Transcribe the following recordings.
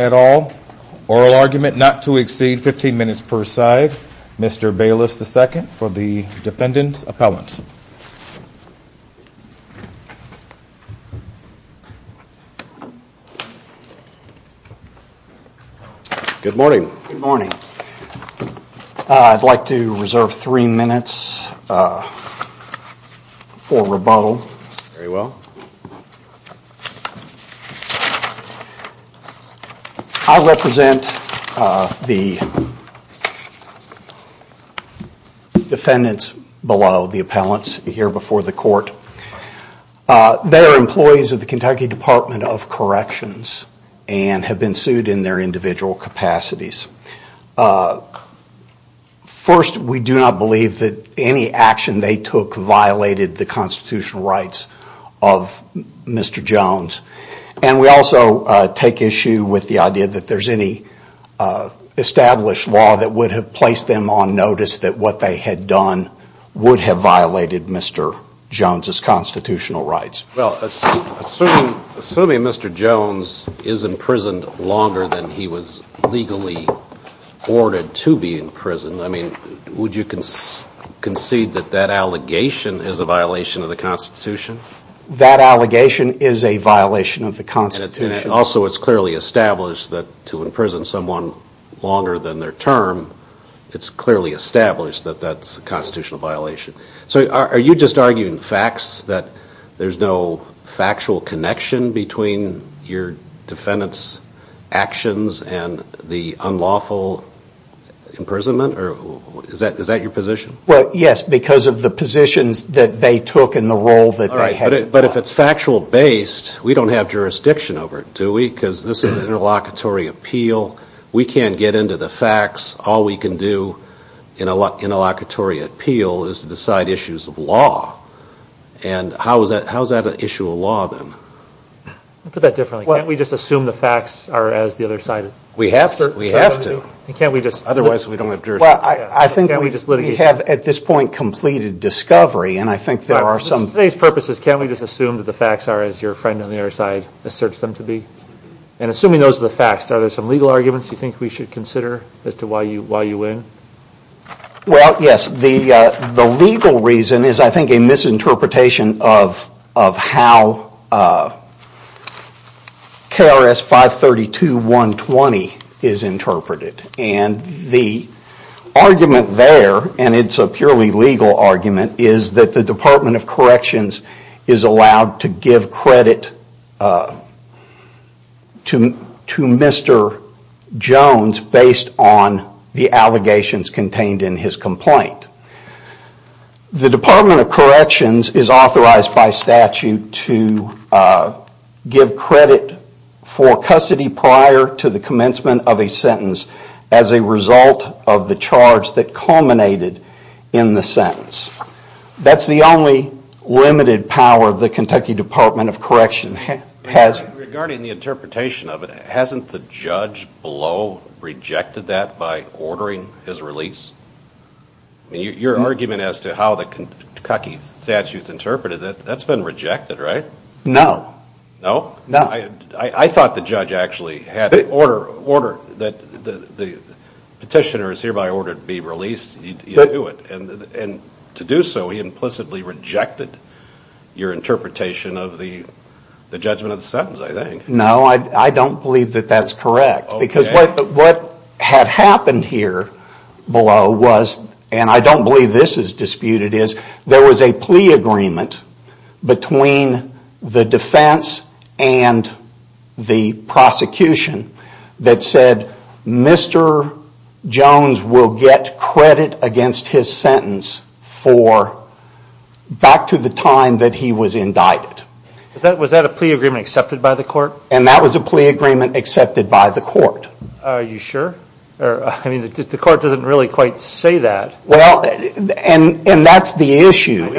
at all. Oral argument not to exceed 15 minutes per side. Mr. Bayless II for the defendant's comments. Good morning. I'd like to reserve three minutes for rebuttal. I represent the appellants here before the court. They are employees of the Kentucky Department of Corrections and have been sued in their individual capacities. First, we do not believe that any action they took violated the constitutional rights of Mr. Jones. And we also take issue with the idea that there is any established law that would have placed them on notice that what they had done would have violated Mr. Jones' constitutional rights. Assuming Mr. Jones is in prison longer than he was legally ordered to be in prison, would you concede that that allegation is a violation of the Constitution? That allegation is a violation of the Constitution. Also it's clearly established that to imprison someone longer than their term, it's clearly established that that's a constitutional violation. So are you just arguing facts that there's no factual connection between your defendant's actions and the unlawful imprisonment? Is that your position? Yes, because of the positions that they took and the role that they had. But if it's factual based, we don't have jurisdiction over it, do we? Because this is an interlocutory appeal. We can't get into the facts. All we can do in an interlocutory appeal is to decide issues of law. And how is that an issue of law then? Put that differently. Can't we just assume the facts are as the other side asserts them to be? We have to. Otherwise we don't have jurisdiction. I think we have at this point completed discovery and I think there are some... For today's purposes, can't we just assume that the facts are as your friend on the other side asserts them to be? And assuming those are the facts, are there some legal arguments you think we should consider as to why you win? Well, yes. The legal reason is I think a misinterpretation of how KRS 532.120 is interpreted. And the argument there, and it's a purely legal argument, is that the Department of Corrections is allowed to give credit to Mr. Jones based on the allegations contained in his complaint. The Department of Corrections is authorized by statute to give credit for custody prior to the commencement of a sentence as a result of the charge that culminated in the sentence. That's the only limited power the Kentucky Department of Corrections has. Regarding the interpretation of it, hasn't the judge below rejected that by ordering his release? Your argument as to how the Kentucky statute is interpreted, that's been rejected, right? No. No? No. I thought the judge actually had ordered that the petitioner is hereby ordered to be released. And to do so, he implicitly rejected your interpretation of the judgment of the sentence, I think. No, I don't believe that that's correct. Because what had happened here below was, and I don't believe this is disputed, is there was a plea agreement between the defense and the prosecution that said Mr. Jones will get credit against his sentence back to the time that he was indicted. Was that a plea agreement accepted by the court? And that was a plea agreement accepted by the court. Are you sure? The court doesn't really quite say that. And that's the issue,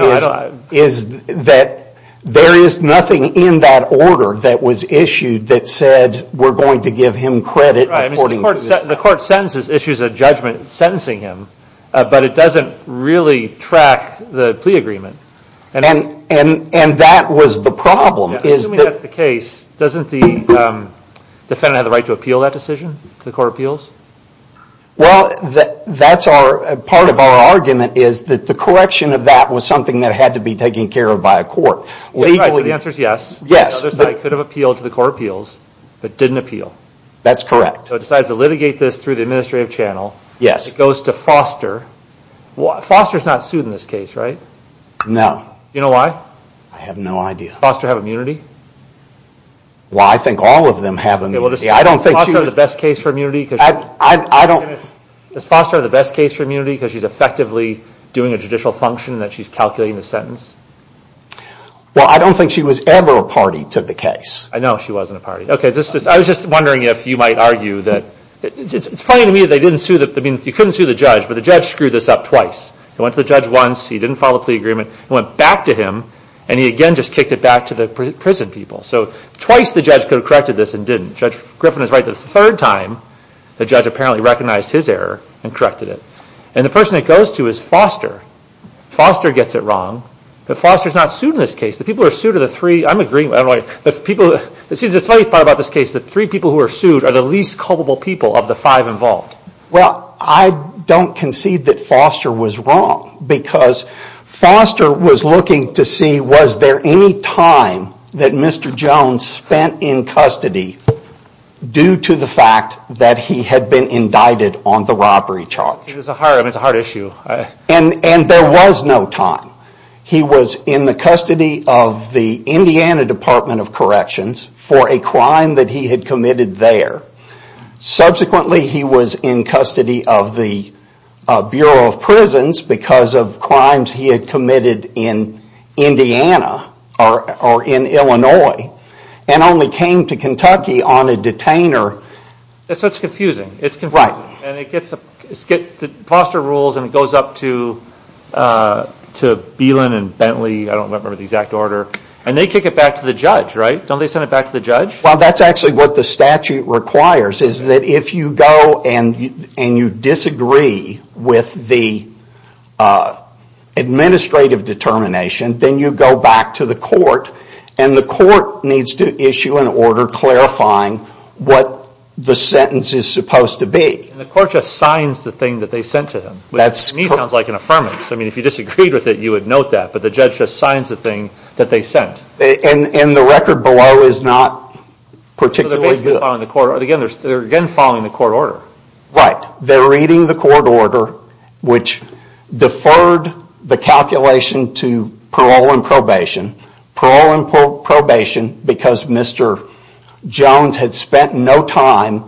is that there is nothing in that order that was issued that said we're going to give him credit according to this But it doesn't really track the plea agreement. And that was the problem. Assuming that's the case, doesn't the defendant have the right to appeal that decision to the court of appeals? Well, that's part of our argument, is that the correction of that was something that had to be taken care of by a court. The answer is yes. The other side could have appealed to the court of appeals, but didn't appeal. That's correct. So it decides to litigate this through the administrative channel. It goes to Foster. Foster's not sued in this case, right? No. Do you know why? I have no idea. Does Foster have immunity? Well, I think all of them have immunity. Does Foster have the best case for immunity because she's effectively doing a judicial function that she's calculating the sentence? Well, I don't think she was ever a party to the case. I know she wasn't a party. I was just wondering if you might argue that it's funny to me that you couldn't sue the judge, but the judge screwed this up twice. He went to the judge once, he didn't follow the plea agreement, he went back to him, and he again just kicked it back to the prison people. So twice the judge could have corrected this and didn't. Judge Griffin is right that the third time the judge apparently recognized his error and corrected it. And the person it goes to is Foster. Foster gets it wrong, but Foster's not sued in this case. The people who are sued are the three people who are sued are the least culpable people of the five involved. Well, I don't concede that Foster was wrong because Foster was looking to see was there any time that Mr. Jones spent in custody due to the fact that he had been indicted on the robbery charge. And there was no time. He was in the custody of the Indiana Department of Corrections for a crime that he had committed there. Subsequently, he was in custody of the Bureau of Prisons because of crimes he had committed in Indiana or in Illinois and only came to Kentucky on a detainer. So it's confusing. Foster rules and it goes up to Belin and Bentley, I don't remember the exact order, and they kick it back to the judge, right? Don't they send it back to the judge? And the court just signs the thing that they sent to them, which to me sounds like an affirmance. I mean, if you disagreed with it, you would note that, but the judge just signs the thing that they sent. And the record below is not particularly good. So they are basically following the court order. Right. They are reading the court order, which deferred the calculation to parole and probation. Parole and probation because Mr. Jones had spent no time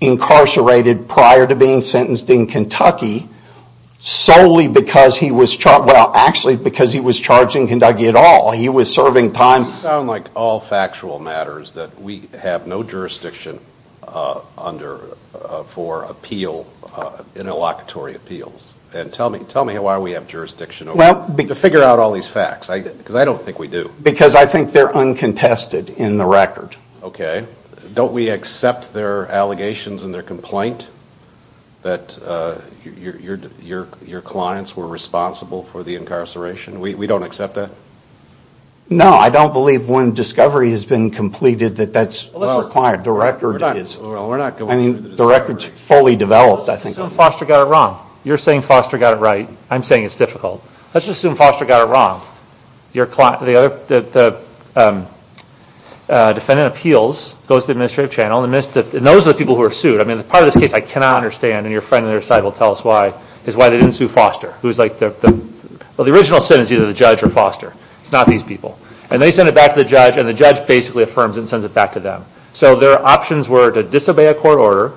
incarcerated prior to being sentenced in Kentucky. Solely because he was charged, well actually because he was charged in Kentucky at all. He was serving time. You sound like all factual matters that we have no jurisdiction under for appeal, interlocutory appeals. And tell me why we have jurisdiction to figure out all these facts, because I don't think we do. Because I think they are uncontested in the record. Okay. Don't we accept their allegations and their complaint that your clients were responsible for the incarceration? We don't accept that? No, I don't believe when discovery has been completed that that's required. The record is fully developed. Let's assume Foster got it wrong. You're saying Foster got it right. I'm saying it's difficult. Let's just assume Foster got it wrong. The defendant appeals, goes to the administrative channel, and those are the people who are sued. I mean, part of this case I cannot understand, and your friend on their side will tell us why, is why they didn't sue Foster. The original sentence is either the judge or Foster. It's not these people. And they send it back to the judge, and the judge basically affirms and sends it back to them. So their options were to disobey a court order,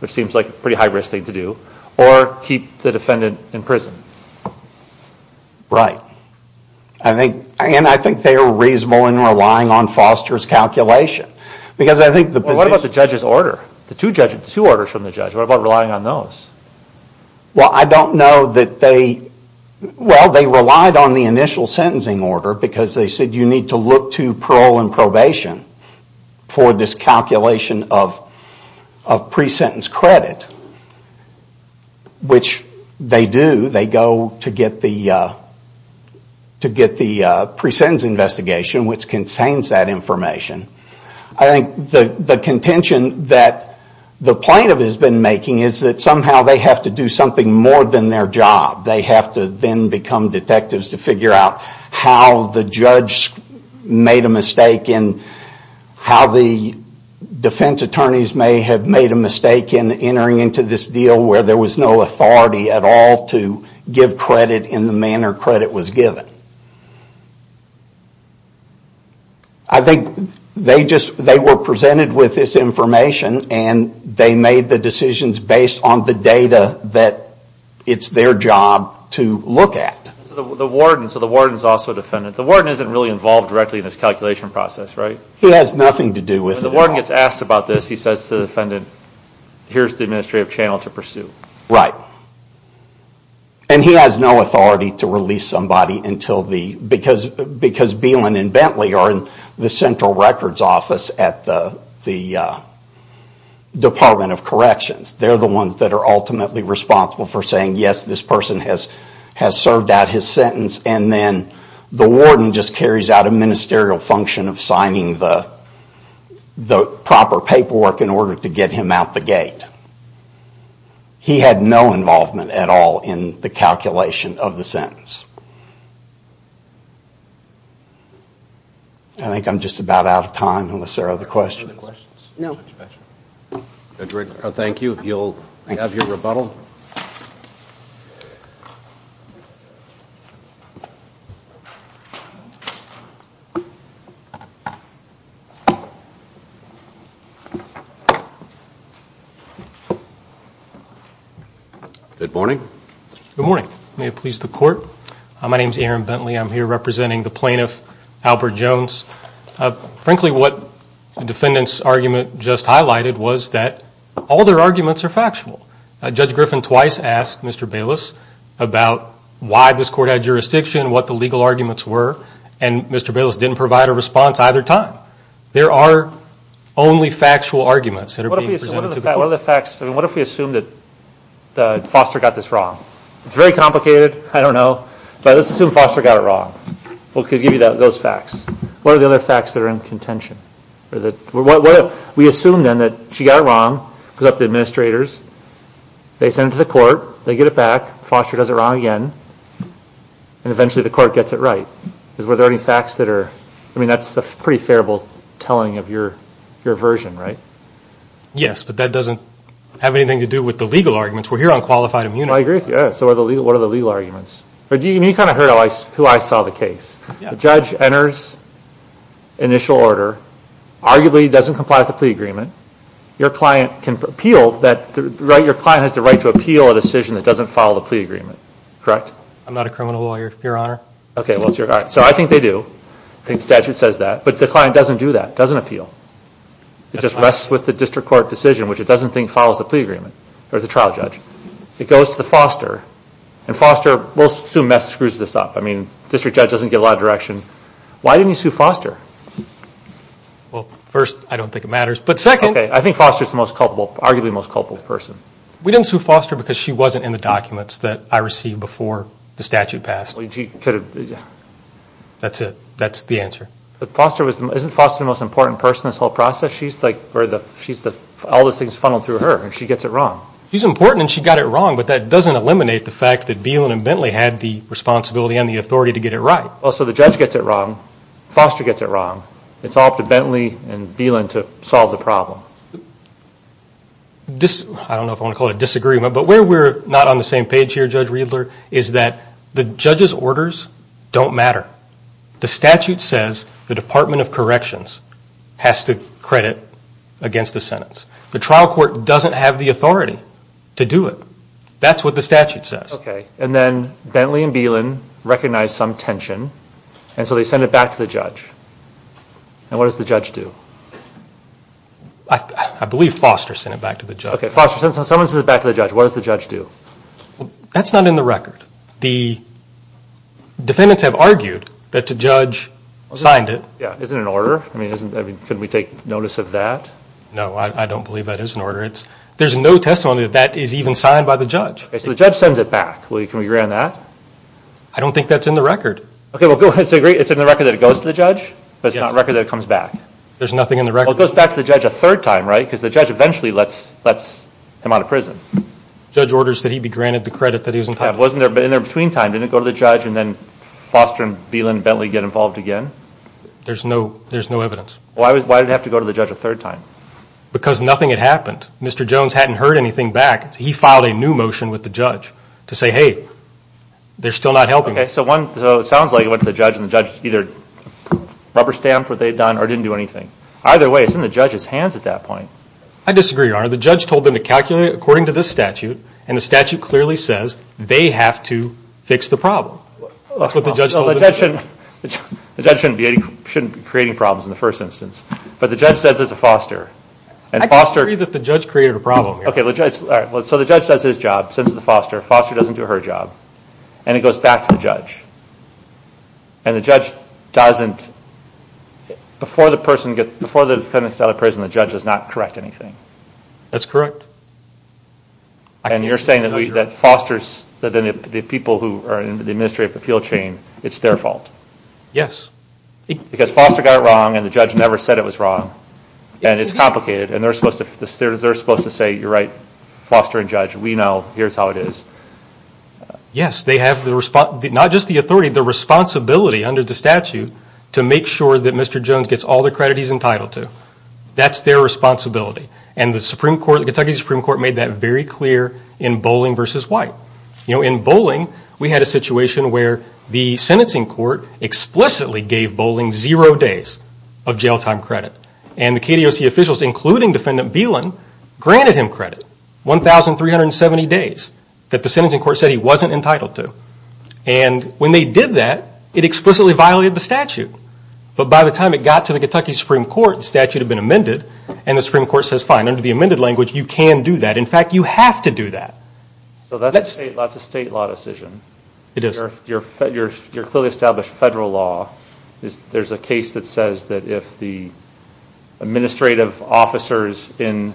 which seems like a pretty high risk thing to do, or keep the defendant in prison. Right. And I think they are reasonable in relying on Foster's calculation. What about the judge's order? The two orders from the judge, what about relying on those? Well, I don't know that they relied on the initial sentencing order, because they said you need to look to parole and probation for this calculation of pre-sentence credit, which they do. They go to get the pre-sentence investigation, which contains that information. I think the contention that the plaintiff has been making is that somehow they have to do something more than their job. They have to then become detectives to figure out how the judge made a mistake, and how the defense attorneys may have made a mistake in entering into this deal where there was no authority at all to give credit in the manner credit was given. I think they were presented with this information, and they made the decisions based on the data that it's their job to look at. So the warden is also a defendant. The warden isn't really involved directly in this calculation process, right? He has nothing to do with it. When the warden gets asked about this, he says to the defendant, here's the administrative channel to pursue. Right. And he has no authority to release somebody, because Beelin and Bentley are in the central records office at the Department of Corrections. They're the ones that are ultimately responsible for saying, yes, this person has served out his sentence, and then the warden just carries out a ministerial function of signing the proper paperwork in order to get him out the gate. He had no involvement at all in the calculation of the sentence. I think I'm just about out of time, unless there are other questions. No. Thank you. You'll have your rebuttal. Good morning. Good morning. May it please the court. My name is Aaron Bentley. I'm here representing the plaintiff, Albert Jones. Frankly, what the defendant's argument just highlighted was that all their arguments are factual. Judge Griffin twice asked Mr. Bayless about why this court had jurisdiction, what the legal arguments were, and Mr. Bayless didn't provide a response either time. There are only factual arguments that are being presented to the court. What if we assume that Foster got this wrong? It's very complicated. I don't know. But let's assume Foster got it wrong. We'll give you those facts. What are the other facts that are in contention? We assume, then, that she got it wrong, because of the administrators. They send it to the court. They get it back. Foster does it wrong again, and eventually the court gets it right. Are there any facts that are – I mean, that's a pretty favorable telling of your version, right? Yes, but that doesn't have anything to do with the legal arguments. We're here on qualified immunity. I agree with you. So what are the legal arguments? You kind of heard who I saw the case. The judge enters initial order, arguably doesn't comply with the plea agreement. Your client can appeal that – your client has the right to appeal a decision that doesn't follow the plea agreement. Correct? I'm not a criminal lawyer, Your Honor. Okay. So I think they do. I think the statute says that. But the client doesn't do that, doesn't appeal. It just rests with the district court decision, which it doesn't think follows the plea agreement, or the trial judge. It goes to Foster, and Foster – we'll assume Mets screws this up. I mean, district judge doesn't get a lot of direction. Why didn't you sue Foster? Well, first, I don't think it matters. But second – Okay, I think Foster is the most culpable – arguably the most culpable person. We didn't sue Foster because she wasn't in the documents that I received before the statute passed. She could have – That's it. That's the answer. But Foster was – isn't Foster the most important person in this whole process? She's like – or the – she's the – all those things funneled through her, and she gets it wrong. She's important, and she got it wrong. But that doesn't eliminate the fact that Bielan and Bentley had the responsibility and the authority to get it right. Well, so the judge gets it wrong. Foster gets it wrong. It's all up to Bentley and Bielan to solve the problem. I don't know if I want to call it a disagreement, but where we're not on the same page here, Judge Riedler, is that the judge's orders don't matter. The statute says the Department of Corrections has to credit against the Senate. The trial court doesn't have the authority to do it. That's what the statute says. Okay, and then Bentley and Bielan recognize some tension, and so they send it back to the judge. And what does the judge do? I believe Foster sent it back to the judge. Okay, Foster, someone sent it back to the judge. What does the judge do? That's not in the record. The defendants have argued that the judge signed it. Yeah, is it in order? I mean, couldn't we take notice of that? No, I don't believe that is in order. There's no testimony that that is even signed by the judge. Okay, so the judge sends it back. Can we agree on that? I don't think that's in the record. Okay, well, it's in the record that it goes to the judge, but it's not a record that it comes back. There's nothing in the record. Well, it goes back to the judge a third time, right, because the judge eventually lets him out of prison. The judge orders that he be granted the credit that he was entitled to. Yeah, but in the in-between time, didn't it go to the judge and then Foster and Belin and Bentley get involved again? There's no evidence. Why did it have to go to the judge a third time? Because nothing had happened. Mr. Jones hadn't heard anything back. He filed a new motion with the judge to say, hey, they're still not helping. Okay, so it sounds like it went to the judge, and the judge either rubber-stamped what they'd done or didn't do anything. Either way, it's in the judge's hands at that point. I disagree, Your Honor. The judge told them to calculate according to this statute, and the statute clearly says they have to fix the problem. That's what the judge told them. Well, the judge shouldn't be creating problems in the first instance, but the judge says it's a Foster. I disagree that the judge created a problem, Your Honor. Okay, so the judge does his job, sends it to Foster. Foster doesn't do her job, and it goes back to the judge. And the judge doesn't, before the defendant is out of prison, the judge does not correct anything. That's correct. And you're saying that Foster's, the people who are in the administrative appeal chain, it's their fault. Yes. Because Foster got it wrong, and the judge never said it was wrong, and it's complicated, and they're supposed to say, you're right, Foster and judge, we know, here's how it is. Yes, they have not just the authority, the responsibility under the statute to make sure that Mr. Jones gets all the credit he's entitled to. That's their responsibility. And the Supreme Court, the Kentucky Supreme Court made that very clear in Bolling v. White. You know, in Bolling, we had a situation where the sentencing court explicitly gave Bolling zero days of jail time credit. And the KDOC officials, including Defendant Beelin, granted him credit, 1,370 days, that the sentencing court said he wasn't entitled to. And when they did that, it explicitly violated the statute. But by the time it got to the Kentucky Supreme Court, the statute had been amended, and the Supreme Court says, fine, under the amended language, you can do that. In fact, you have to do that. So that's a state law decision. It is. You're clearly established federal law. There's a case that says that if the administrative officers in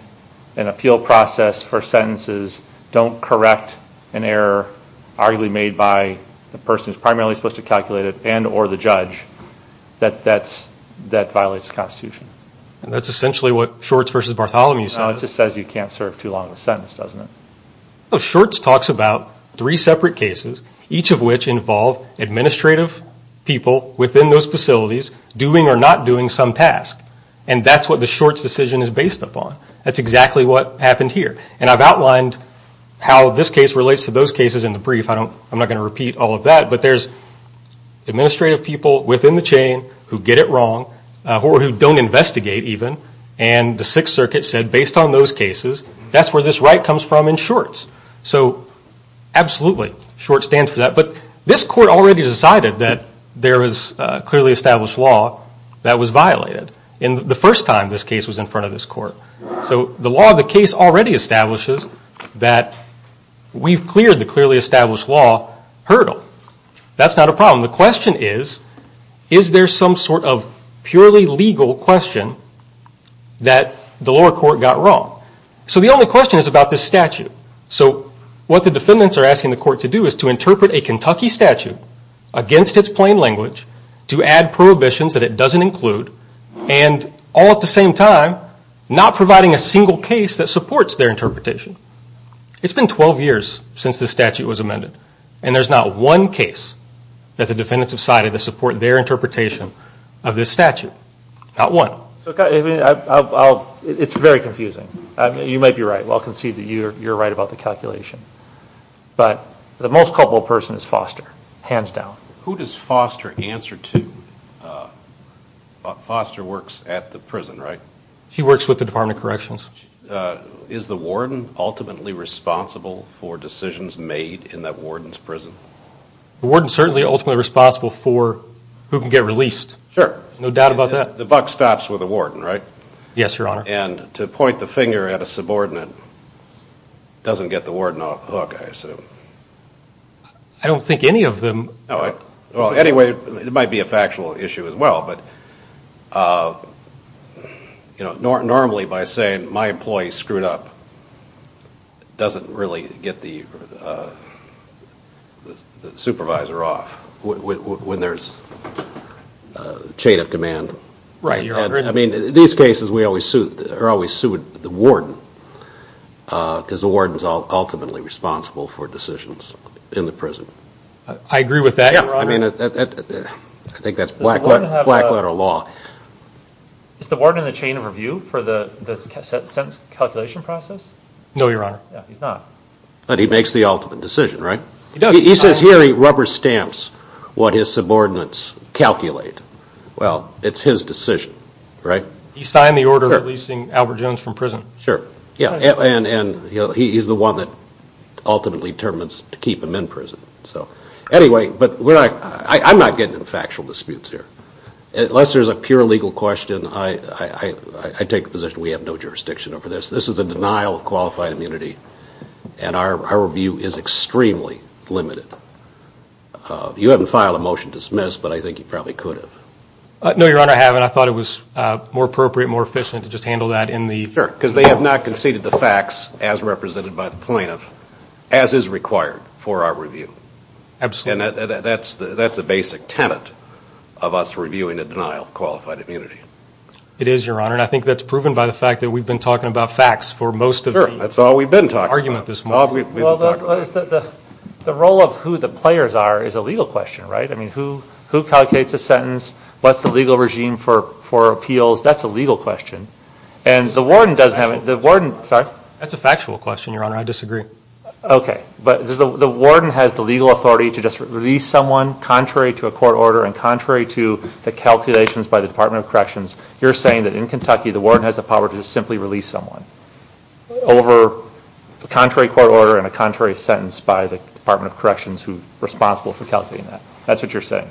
an appeal process for sentences don't correct an error arguably made by the person who's primarily supposed to calculate it and or the judge, that that violates the Constitution. And that's essentially what Shorts v. Bartholomew says. No, it just says you can't serve too long a sentence, doesn't it? Shorts talks about three separate cases, each of which involve administrative people within those facilities doing or not doing some task. And that's what the Shorts decision is based upon. That's exactly what happened here. And I've outlined how this case relates to those cases in the brief. I'm not going to repeat all of that. But there's administrative people within the chain who get it wrong or who don't investigate even. And the Sixth Circuit said based on those cases, that's where this right comes from in Shorts. So absolutely, Shorts stands for that. But this court already decided that there is clearly established law that was violated the first time this case was in front of this court. So the law of the case already establishes that we've cleared the clearly established law hurdle. That's not a problem. The question is, is there some sort of purely legal question that the lower court got wrong? So the only question is about this statute. So what the defendants are asking the court to do is to interpret a Kentucky statute against its plain language, to add prohibitions that it doesn't include, and all at the same time, not providing a single case that supports their interpretation. It's been 12 years since this statute was amended. And there's not one case that the defendants have cited that support their interpretation of this statute. Not one. It's very confusing. You might be right. Well, I'll concede that you're right about the calculation. But the most culpable person is Foster, hands down. Who does Foster answer to? Foster works at the prison, right? He works with the Department of Corrections. Is the warden ultimately responsible for decisions made in that warden's prison? The warden is certainly ultimately responsible for who can get released. Sure. No doubt about that. The buck stops with the warden, right? Yes, Your Honor. And to point the finger at a subordinate doesn't get the warden off the hook, I assume. I don't think any of them. Well, anyway, it might be a factual issue as well. But normally by saying, my employee screwed up, doesn't really get the supervisor off when there's a chain of command. Right, Your Honor. I mean, in these cases, we always sue the warden because the warden is ultimately responsible for decisions in the prison. I agree with that, Your Honor. I think that's black letter law. Is the warden in the chain of review for the sentence calculation process? No, Your Honor. He's not. But he makes the ultimate decision, right? He does. He says here he rubber stamps what his subordinates calculate. Well, it's his decision, right? He signed the order releasing Albert Jones from prison. Sure. And he's the one that ultimately determines to keep him in prison. Anyway, I'm not getting into factual disputes here. Unless there's a pure legal question, I take the position we have no jurisdiction over this. This is a denial of qualified immunity, and our review is extremely limited. You haven't filed a motion to dismiss, but I think you probably could have. No, Your Honor, I haven't. I thought it was more appropriate and more efficient to just handle that in the... Sure, because they have not conceded the facts as represented by the plaintiff, as is required for our review. Absolutely. And that's a basic tenet of us reviewing a denial of qualified immunity. It is, Your Honor, and I think that's proven by the fact that we've been talking about facts for most of the argument this morning. Sure, that's all we've been talking about. Well, the role of who the players are is a legal question, right? I mean, who calculates a sentence? What's the legal regime for appeals? That's a legal question. That's a factual question, Your Honor. Sorry? That's a factual question, Your Honor. I disagree. Okay. But the warden has the legal authority to just release someone contrary to a court order and contrary to the calculations by the Department of Corrections. You're saying that in Kentucky, the warden has the power to just simply release someone over a contrary court order and a contrary sentence by the Department of Corrections, who's responsible for calculating that. That's what you're saying.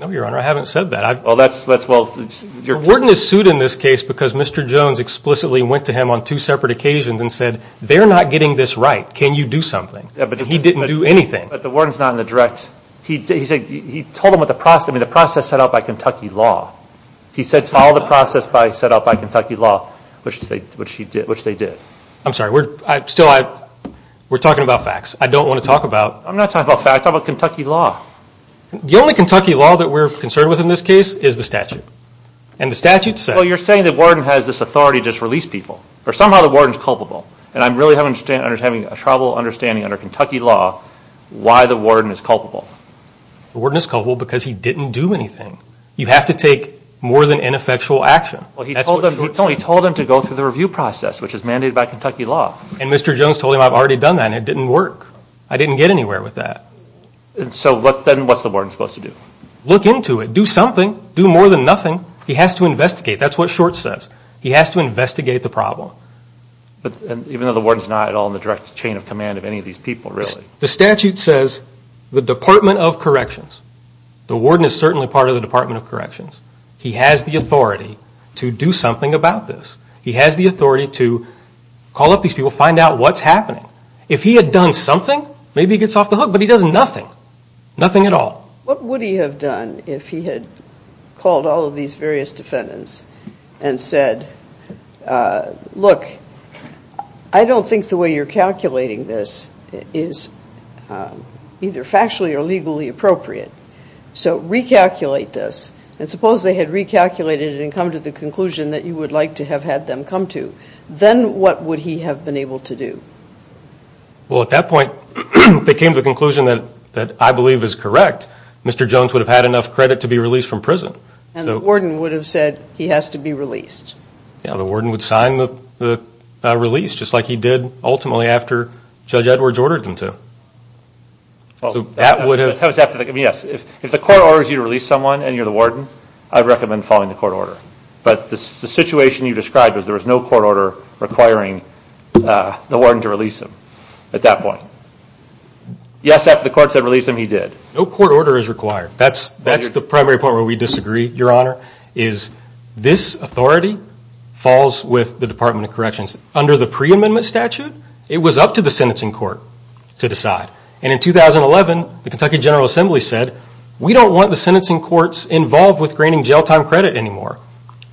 No, Your Honor, I haven't said that. Well, that's well... Your Honor, warden is sued in this case because Mr. Jones explicitly went to him on two separate occasions and said, they're not getting this right. Can you do something? And he didn't do anything. But the warden's not in the direct... He told him what the process... I mean, the process set out by Kentucky law. He said, follow the process set out by Kentucky law, which they did. I'm sorry. Still, we're talking about facts. I don't want to talk about... I'm not talking about facts. I'm talking about Kentucky law. The only Kentucky law that we're concerned with in this case is the statute. And the statute says... Well, you're saying the warden has this authority to just release people. Or somehow the warden's culpable. And I'm really having trouble understanding under Kentucky law why the warden is culpable. The warden is culpable because he didn't do anything. You have to take more than ineffectual action. Well, he told him to go through the review process, which is mandated by Kentucky law. And Mr. Jones told him, I've already done that, and it didn't work. I didn't get anywhere with that. And so then what's the warden supposed to do? Look into it. Do something. Do more than nothing. He has to investigate. That's what Short says. He has to investigate the problem. Even though the warden's not at all in the direct chain of command of any of these people, really. The statute says the Department of Corrections. The warden is certainly part of the Department of Corrections. He has the authority to do something about this. He has the authority to call up these people, find out what's happening. If he had done something, maybe he gets off the hook. But he does nothing. Nothing at all. What would he have done if he had called all of these various defendants and said, look, I don't think the way you're calculating this is either factually or legally appropriate. So recalculate this. And suppose they had recalculated it and come to the conclusion that you would like to have had them come to. Then what would he have been able to do? Well, at that point, they came to the conclusion that I believe is correct. Mr. Jones would have had enough credit to be released from prison. And the warden would have said he has to be released. Yeah. The warden would sign the release just like he did ultimately after Judge Edwards ordered them to. So that would have. Yes. If the court orders you to release someone and you're the warden, I'd recommend following the court order. But the situation you described was there was no court order requiring the warden to release him at that point. Yes, after the court said release him, he did. No court order is required. That's the primary point where we disagree, Your Honor, is this authority falls with the Department of Corrections. Under the pre-amendment statute, it was up to the sentencing court to decide. And in 2011, the Kentucky General Assembly said, we don't want the sentencing courts involved with granting jail time credit anymore.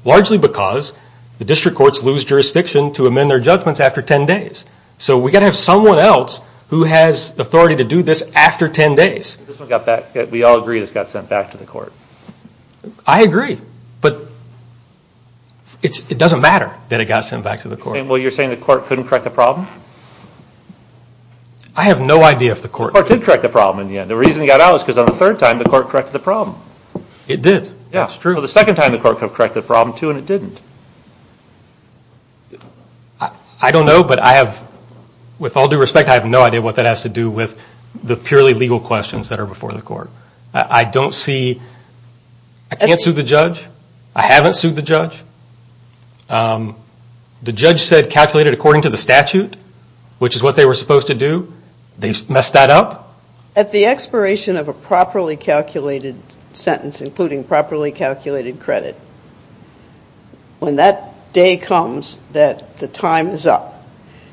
Largely because the district courts lose jurisdiction to amend their judgments after 10 days. So we've got to have someone else who has authority to do this after 10 days. We all agree this got sent back to the court. I agree. But it doesn't matter that it got sent back to the court. Well, you're saying the court couldn't correct the problem? I have no idea if the court did. The court did correct the problem in the end. The reason it got out is because on the third time, the court corrected the problem. It did. That's true. The second time, the court corrected the problem, too, and it didn't. I don't know, but I have, with all due respect, I have no idea what that has to do with the purely legal questions that are before the court. I don't see, I can't sue the judge. I haven't sued the judge. The judge said calculated according to the statute, which is what they were supposed to do. They messed that up. At the expiration of a properly calculated sentence, including properly calculated credit, when that day comes that the time is up,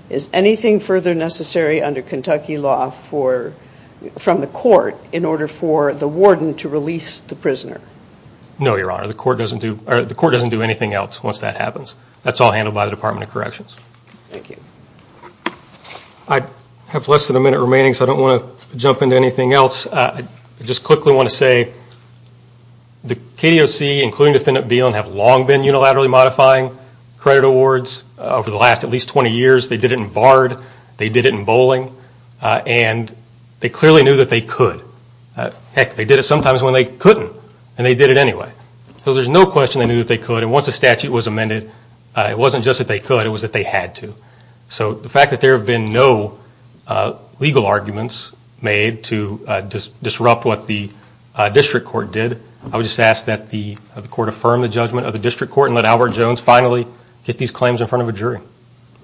is anything further necessary under Kentucky law from the court in order for the warden to release the prisoner? No, Your Honor. The court doesn't do anything else once that happens. That's all handled by the Department of Corrections. Thank you. I have less than a minute remaining, so I don't want to jump into anything else. I just quickly want to say the KDOC, including Defendant Beiland, have long been unilaterally modifying credit awards. Over the last at least 20 years, they did it in bard, they did it in bowling, and they clearly knew that they could. Heck, they did it sometimes when they couldn't, and they did it anyway. So there's no question they knew that they could, and once the statute was amended, it wasn't just that they could, it was that they had to. So the fact that there have been no legal arguments made to disrupt what the district court did, I would just ask that the court affirm the judgment of the district court and let Albert Jones finally get these claims in front of a jury.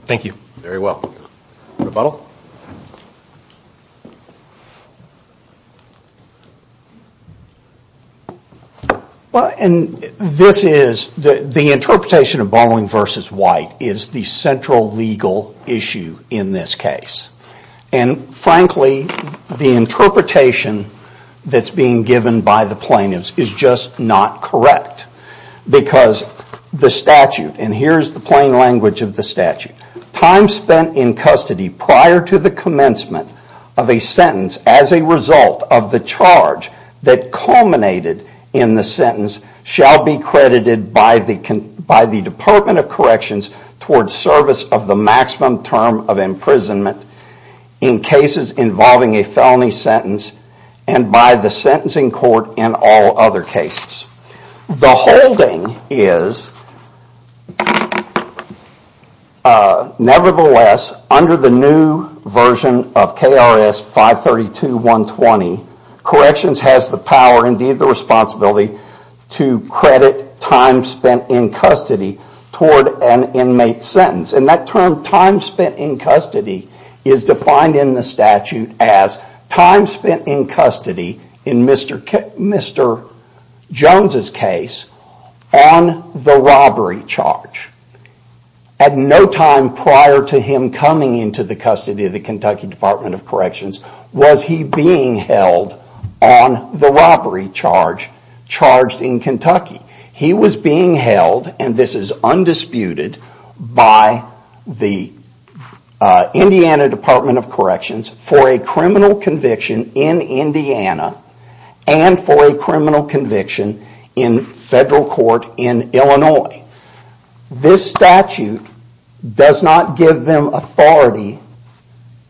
Thank you. Very well. Rebuttal? The interpretation of bowling versus white is the central legal issue in this case. And frankly, the interpretation that's being given by the plaintiffs is just not correct. Because the statute, and here's the plain language of the statute, time spent in custody prior to the commencement of a sentence as a result of the charge that culminated in the sentence shall be credited by the Department of Corrections toward service of the maximum term of imprisonment in cases involving a felony sentence and by the sentencing court in all other cases. The holding is, nevertheless, under the new version of KRS 532.120, Corrections has the power, indeed the responsibility, to credit time spent in custody toward an inmate sentence. And that term, time spent in custody, is defined in the statute as time spent in custody in Mr. Jones' case on the robbery charge. At no time prior to him coming into the custody of the Kentucky Department of Corrections was he being held on the robbery charge charged in Kentucky. He was being held, and this is undisputed, by the Indiana Department of Corrections for a criminal conviction in Indiana and for a criminal conviction in federal court in Illinois. This statute does not give them authority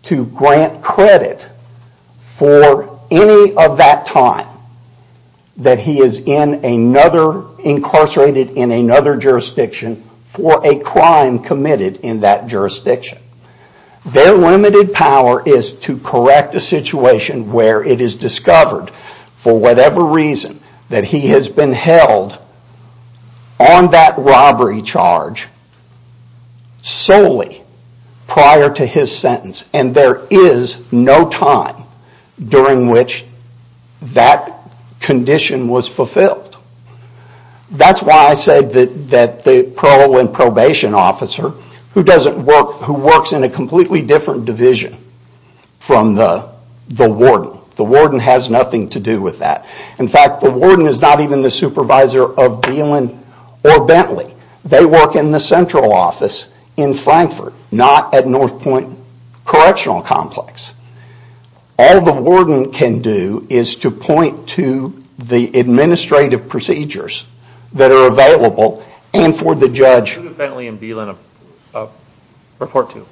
to grant credit for any of that time that he is incarcerated in another jurisdiction for a crime committed in that jurisdiction. Their limited power is to correct a situation where it is discovered, for whatever reason, that he has been held on that robbery charge solely prior to his sentence. And there is no time during which that condition was fulfilled. That's why I said that the parole and probation officer who works in a completely different division from the warden, the warden has nothing to do with that. In fact, the warden is not even the supervisor of Dillon or Bentley. They work in the central office in Frankfurt, not at North Point Correctional Complex. All the warden can do is to point to the administrative procedures that are available and for the judge... Who did Bentley and Dillon report to?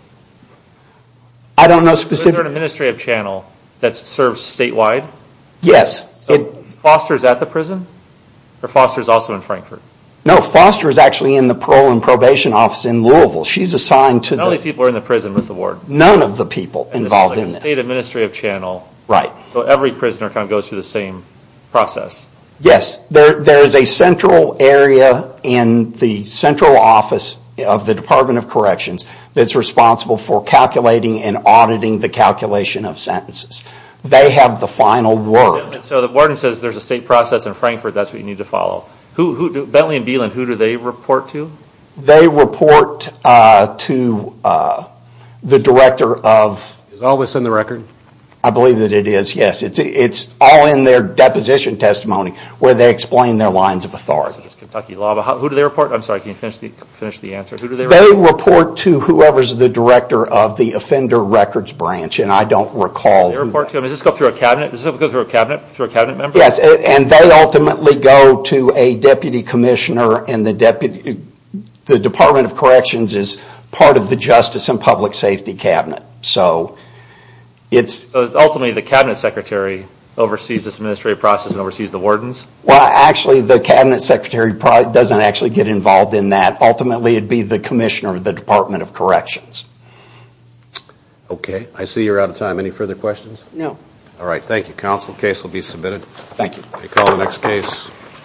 I don't know specifically. Is there an administrative channel that serves statewide? Yes. So Foster is at the prison? Or Foster is also in Frankfurt? No, Foster is actually in the parole and probation office in Louisville. She is assigned to the... None of these people are in the prison with the ward? None of the people involved in this. State administrative channel. Right. So every prisoner goes through the same process? Yes. There is a central area in the central office of the Department of Corrections that is responsible for calculating and auditing the calculation of sentences. They have the final word. So the warden says there is a state process in Frankfurt and that's what you need to follow. Bentley and Dillon, who do they report to? They report to the director of... Is all of this in the record? I believe that it is, yes. It's all in their deposition testimony where they explain their lines of authority. Who do they report? I'm sorry, can you finish the answer? They report to whoever is the director of the offender records branch and I don't recall... Does this go through a cabinet? Does this go through a cabinet member? Yes, and they ultimately go to a deputy commissioner and the Department of Corrections is part of the Justice and Public Safety Cabinet. So ultimately the cabinet secretary oversees this administrative process and oversees the wardens? Well, actually the cabinet secretary doesn't actually get involved in that. Ultimately it would be the commissioner of the Department of Corrections. Okay, I see you are out of time. Any further questions? No. All right, thank you, counsel. The case will be submitted. Thank you. We'll call the next case.